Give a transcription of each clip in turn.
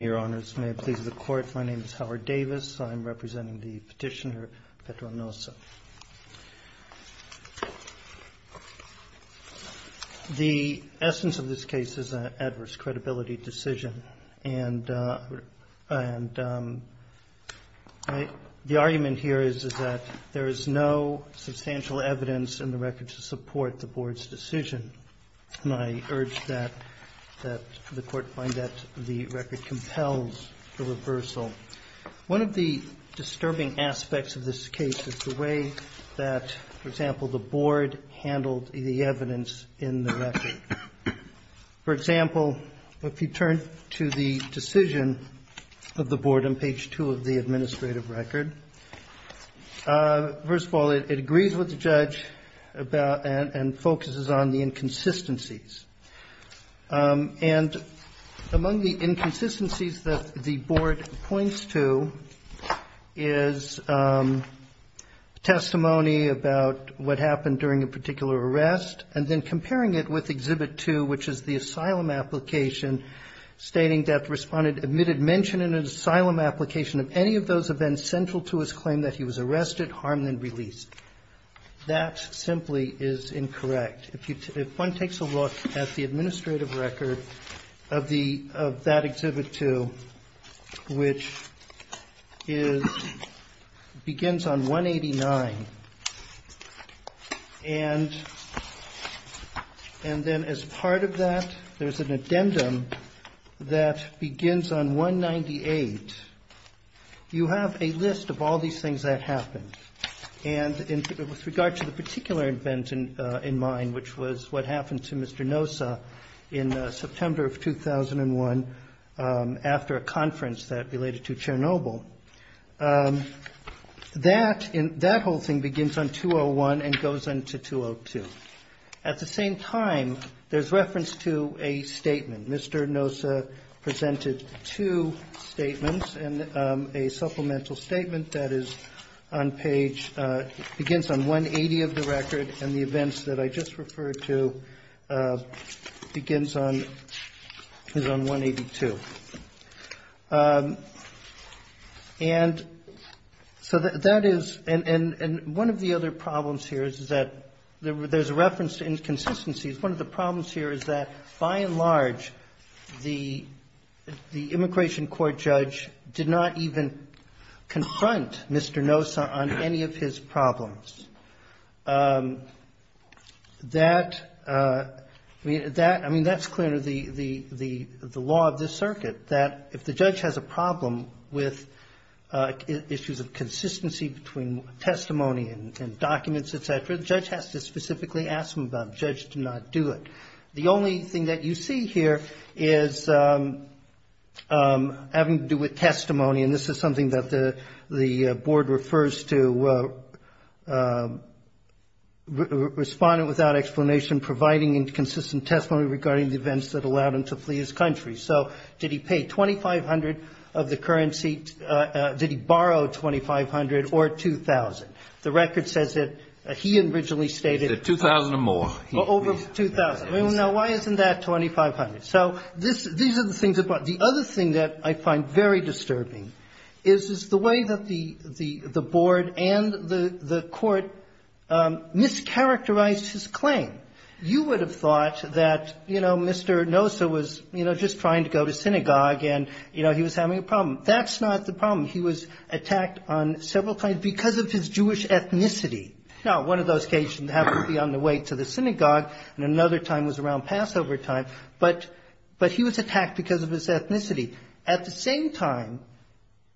Your Honors, may it please the Court, my name is Howard Davis. I'm representing the petitioner, Petro Nosa. The essence of this case is an adverse credibility decision. The argument here is that there is no substantial evidence in the record to support the Board's decision. And I urge that the Court find that the record compels the reversal. One of the disturbing aspects of this case is the way that, for example, the Board handled the evidence in the record. For example, if you turn to the decision of the Board on page 2 of the administrative record, first of all, it agrees with the judge and focuses on the inconsistencies. And among the inconsistencies that the Board points to is testimony about what happened during a particular arrest, and then comparing it with Exhibit 2, which is the asylum application, stating that the respondent admitted mention in an asylum application of any of those events central to his claim that he was arrested, harmed, and released. That simply is incorrect. If one takes a look at the administrative record of that Exhibit 2, which begins on 189, and then as part of that there's an addendum that begins on 198, you have a list of all these things that happened. And with regard to the particular event in mind, which was what happened to Mr. Nosa in September of 2001 after a conference that related to Chernobyl, that whole thing begins on 201 and goes on to 202. At the same time, there's reference to a statement. Mr. Nosa presented two statements, and a supplemental statement that is on page – referred to begins on – is on 182. And so that is – and one of the other problems here is that there's a reference to inconsistencies. One of the problems here is that, by and large, the immigration court judge did not even confront Mr. Nosa on any of his problems. That – I mean, that's clearly the law of this circuit, that if the judge has a problem with issues of consistency between testimony and documents, et cetera, the judge has to specifically ask them about it. The judge did not do it. The only thing that you see here is having to do with testimony. And this is something that the Board refers to, respondent without explanation providing inconsistent testimony regarding the events that allowed him to flee his country. So did he pay $2,500 of the currency? Did he borrow $2,500 or $2,000? The record says that he originally stated – He said $2,000 or more. Over $2,000. Now, why isn't that $2,500? So these are the things that – the other thing that I find very disturbing is the way that the Board and the court mischaracterized his claim. You would have thought that, you know, Mr. Nosa was, you know, just trying to go to synagogue and, you know, he was having a problem. That's not the problem. He was attacked on several claims because of his Jewish ethnicity. Now, one of those cases happened to be on the way to the synagogue, and another time was around Passover time. But he was attacked because of his ethnicity. At the same time,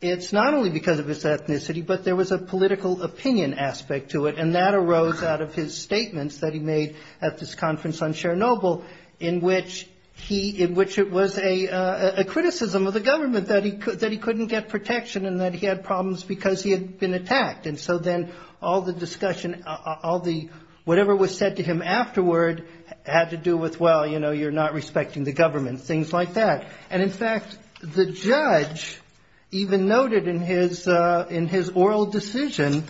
it's not only because of his ethnicity, but there was a political opinion aspect to it, and that arose out of his statements that he made at this conference on Chernobyl in which he – in which it was a criticism of the government that he couldn't get protection and that he had problems because he had been attacked. And so then all the discussion, all the – whatever was said to him afterward had to do with, well, you know, you're not respecting the government, things like that. And, in fact, the judge even noted in his oral decision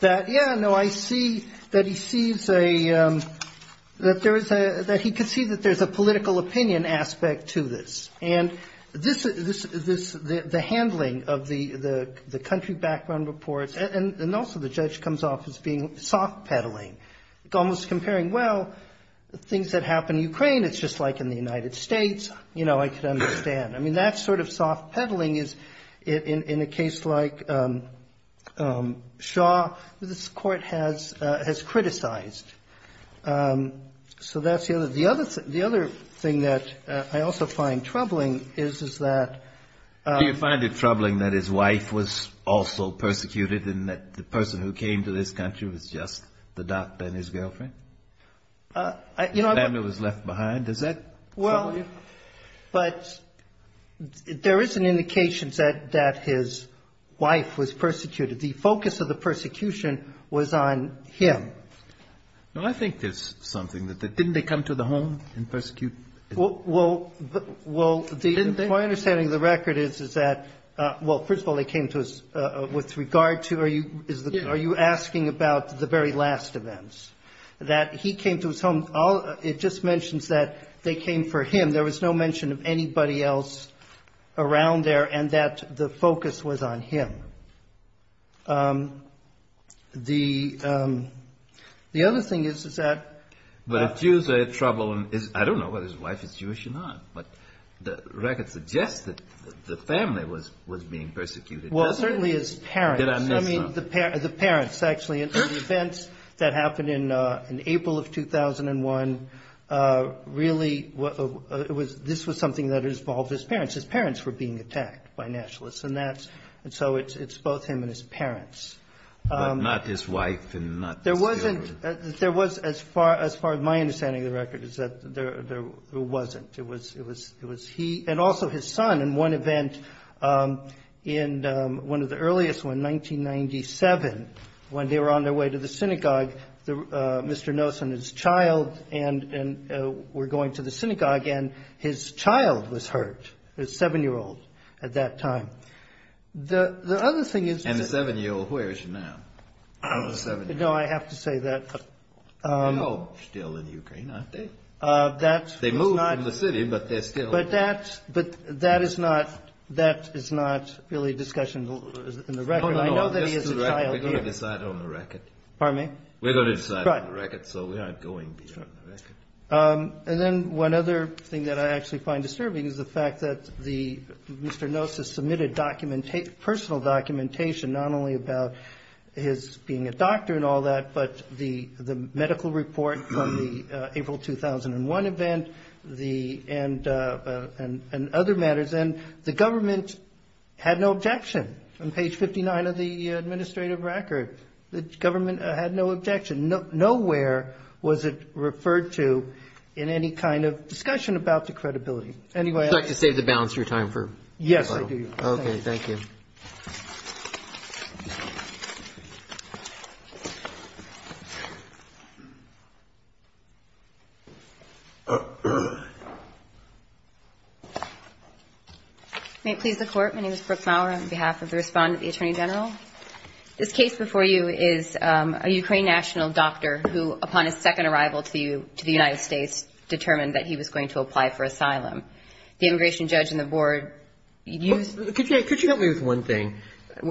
that, yeah, no, I see that he sees a – that there is a – that he could see that there's a political opinion aspect to this. And this – the handling of the country background reports, and also the judge comes off as being soft-peddling, almost comparing, well, things that happen in Ukraine, it's just like in the United States. You know, I could understand. I mean, that sort of soft-peddling is, in a case like Shaw, this Court has criticized. So that's the other – the other thing that I also find troubling is, is that – Do you find it troubling that his wife was also persecuted, and that the person who came to this country was just the doctor and his girlfriend? You know, I – The family was left behind. Does that trouble you? Well, but there is an indication that his wife was persecuted. The focus of the persecution was on him. Well, I think there's something that the – didn't they come to the home and persecute? Well, the – Didn't they? My understanding of the record is, is that – well, first of all, they came to us with regard to – Are you – Yes. Are you asking about the very last events? That he came to his home – it just mentions that they came for him. There was no mention of anybody else around there, and that the focus was on him. The other thing is, is that – But if Jews are troubling – I don't know whether his wife is Jewish or not, but the record suggests that the family was being persecuted. Well, certainly his parents. Did I miss something? The parents, actually. The events that happened in April of 2001 really – this was something that involved his parents. His parents were being attacked by nationalists, and that's – and so it's both him and his parents. But not his wife and not his children. There wasn't – there was, as far as my understanding of the record, is that there wasn't. It was he – and also his son in one event, in one of the earliest, in 1997, when they were on their way to the synagogue, Mr. Nosen and his child were going to the synagogue, and his child was hurt, his seven-year-old, at that time. The other thing is – And the seven-year-old, where is she now? No, I have to say that – They're still in Ukraine, aren't they? They moved from the city, but they're still – But that is not really a discussion in the record. I know that he has a child here. We're going to decide on the record. Pardon me? We're going to decide on the record, so we aren't going to be on the record. And then one other thing that I actually find disturbing is the fact that the – Mr. Nosen submitted personal documentation, not only about his being a doctor and all that, but the medical report from the April 2001 event and other matters, and the government had no objection on page 59 of the administrative record. The government had no objection. Nowhere was it referred to in any kind of discussion about the credibility. Anyway, I – Would you like to save the balance of your time for – Yes, I do. Okay, thank you. Thank you. May it please the Court, my name is Brooke Maurer. On behalf of the respondent, the Attorney General, this case before you is a Ukrainian national doctor who, upon his second arrival to the United States, determined that he was going to apply for asylum. The immigration judge and the board used – Could you help me with one thing?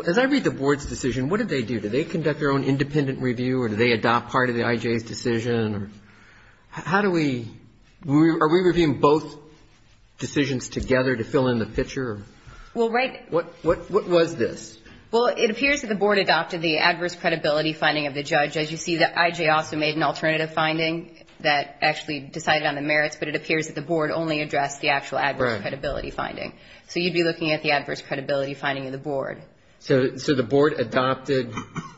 As I read the board's decision, what did they do? Did they conduct their own independent review or did they adopt part of the IJ's decision? How do we – are we reviewing both decisions together to fill in the picture? Well, right – What was this? Well, it appears that the board adopted the adverse credibility finding of the judge. As you see, the IJ also made an alternative finding that actually decided on the merits, but it appears that the board only addressed the actual adverse credibility finding. Right. So you'd be looking at the adverse credibility finding of the board. So the board adopted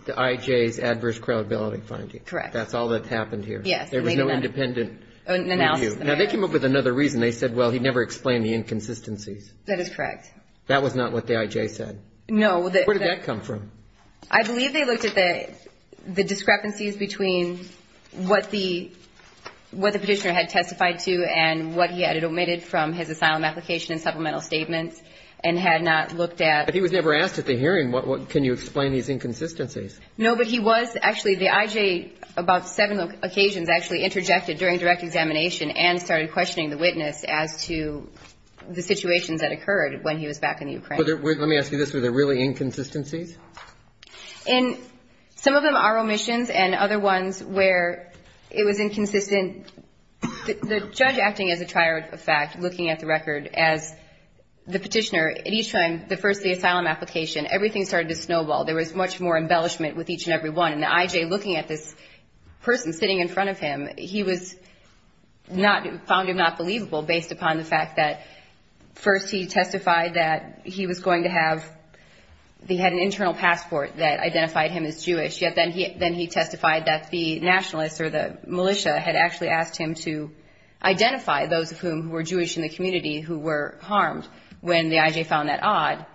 the IJ's adverse credibility finding? Correct. That's all that happened here? Yes. There was no independent review? An analysis of the merits. Now, they came up with another reason. They said, well, he never explained the inconsistencies. That is correct. That was not what the IJ said? No. Where did that come from? I believe they looked at the discrepancies between what the petitioner had testified to and what he had omitted from his asylum application and supplemental statements and had not looked at – But he was never asked at the hearing, can you explain these inconsistencies? No, but he was – actually, the IJ about seven occasions actually interjected during direct examination and started questioning the witness as to the situations that occurred when he was back in the Ukraine. Let me ask you this. Were there really inconsistencies? Some of them are omissions and other ones where it was inconsistent. The judge acting as a trier of fact, looking at the record as the petitioner, at each time, the first of the asylum application, everything started to snowball. There was much more embellishment with each and every one. And the IJ, looking at this person sitting in front of him, he found it not believable based upon the fact that first he testified that he was going to have – he had an internal passport that identified him as Jewish, yet then he testified that the nationalists or the militia had actually asked him to identify those of whom who were Jewish in the community who were harmed when the IJ found that odd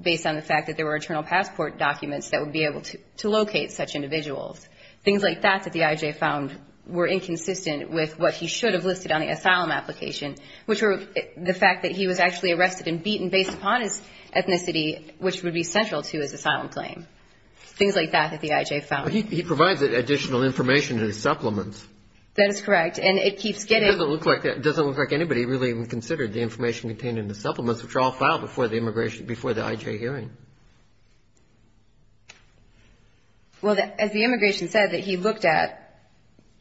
based on the fact that there were internal passport documents that would be able to locate such individuals. Things like that that the IJ found were inconsistent with what he should have listed on the asylum application, which were the fact that he was actually arrested and beaten based upon his ethnicity, which would be central to his asylum claim. Things like that that the IJ found. But he provides additional information in his supplements. That is correct. And it keeps getting – It doesn't look like anybody really even considered the information contained in the supplements, which are all filed before the IJ hearing. Well, as the immigration said, that he looked at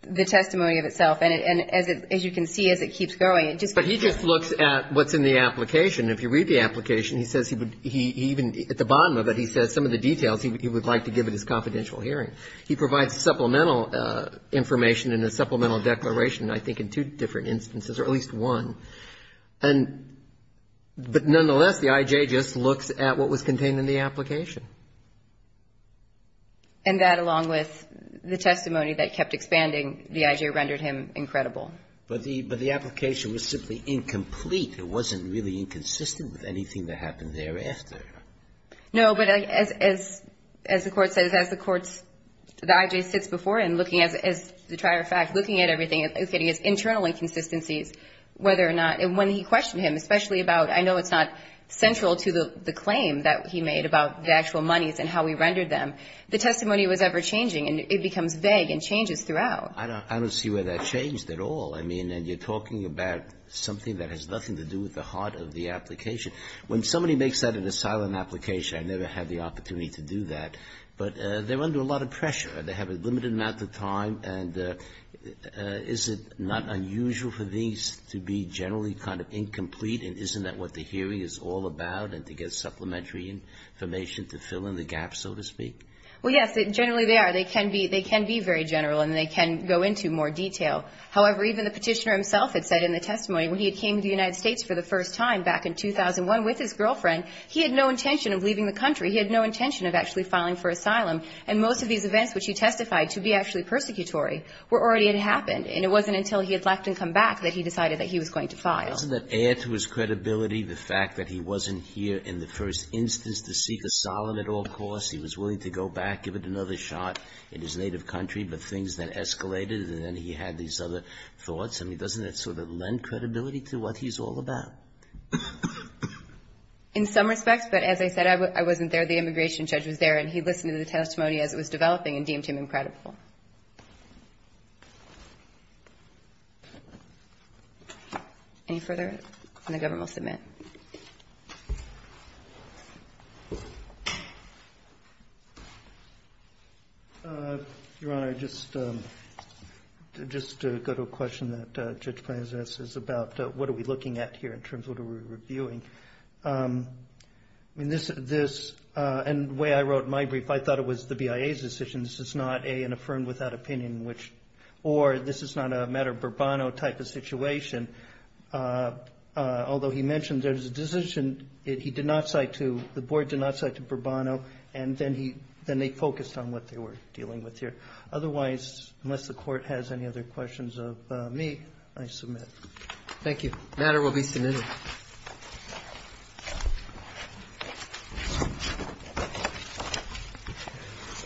the testimony of itself. And as you can see, as it keeps going, it just – But he just looks at what's in the application. If you read the application, he says he would – he even – at the bottom of it, he says some of the details he would like to give at his confidential hearing. He provides supplemental information and a supplemental declaration, I think, in two different instances, or at least one. And – but nonetheless, the IJ just looks at what was contained in the application. And that, along with the testimony that kept expanding, the IJ rendered him incredible. But the – but the application was simply incomplete. It wasn't really inconsistent with anything that happened thereafter. No, but as – as the Court says, as the Court's – the IJ sits before him looking at – as a matter of fact, looking at everything, looking at his internal inconsistencies, whether or not – and when he questioned him, especially about – I know it's not central to the claim that he made about the actual monies and how he rendered them. The testimony was ever-changing, and it becomes vague and changes throughout. I don't see where that changed at all. I mean, and you're talking about something that has nothing to do with the heart of the application. When somebody makes that in a silent application, I never had the opportunity to do that. But they're under a lot of pressure. They have a limited amount of time. And is it not unusual for these to be generally kind of incomplete, and isn't that what the hearing is all about, and to get supplementary information to fill in the gap, so to speak? Well, yes. Generally, they are. They can be – they can be very general, and they can go into more detail. However, even the Petitioner himself had said in the testimony, when he had came to the United States for the first time back in 2001 with his girlfriend, he had no intention of leaving the country. He had no intention of actually filing for asylum. And most of these events, which he testified to be actually persecutory, were already had happened, and it wasn't until he had left and come back that he decided that he was going to file. Wasn't that heir to his credibility, the fact that he wasn't here in the first instance to seek asylum at all costs? He was willing to go back, give it another shot in his native country, but things then escalated, and then he had these other thoughts? I mean, doesn't that sort of lend credibility to what he's all about? In some respects, but as I said, I wasn't there. The immigration judge was there, and he listened to the testimony as it was developing and deemed him incredible. Any further? And the Government will submit. Your Honor, just to go to a question that Judge Plante has asked is about what are we looking at here in terms of what are we reviewing? I mean, this, and the way I wrote my brief, I thought it was the BIA's decision. This is not, A, an affirmed without opinion, or this is not a matter of Bourbon type of matter, although he mentioned there's a decision he did not cite to, the Board did not cite to Bourbon, and then he, then they focused on what they were dealing with here. Otherwise, unless the Court has any other questions of me, I submit. Thank you. The matter will be submitted.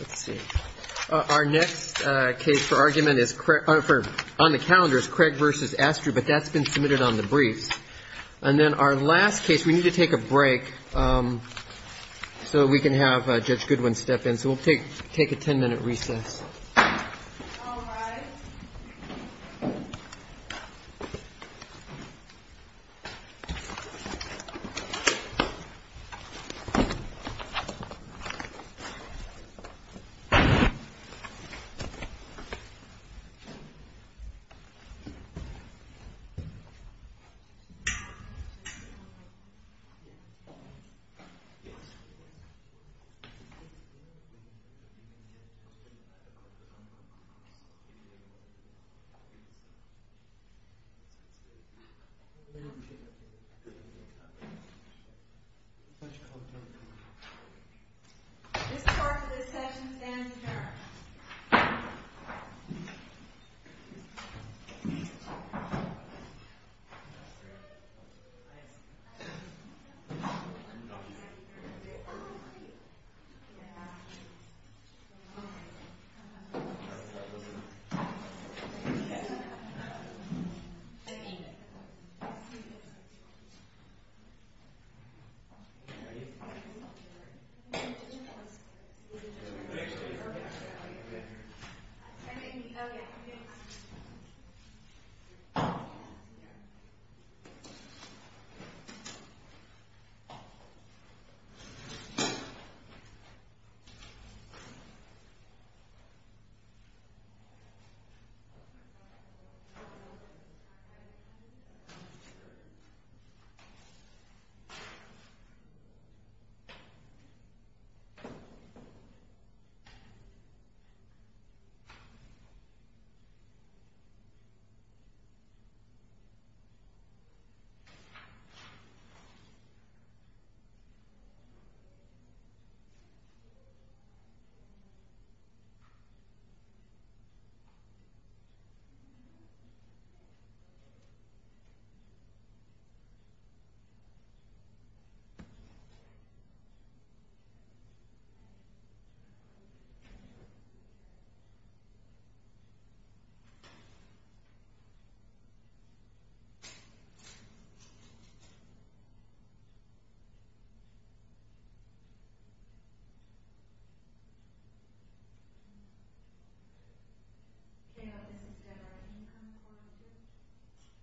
Let's see. Our next case for argument is, on the calendar, is Craig v. Astrew, but that's been submitted on the briefs. And then our last case, we need to take a break so we can have Judge Goodwin step in. So we'll take a ten-minute recess. This part of the session stands adjourned. Thank you. Thank you. Thank you. Thank you. Thank you.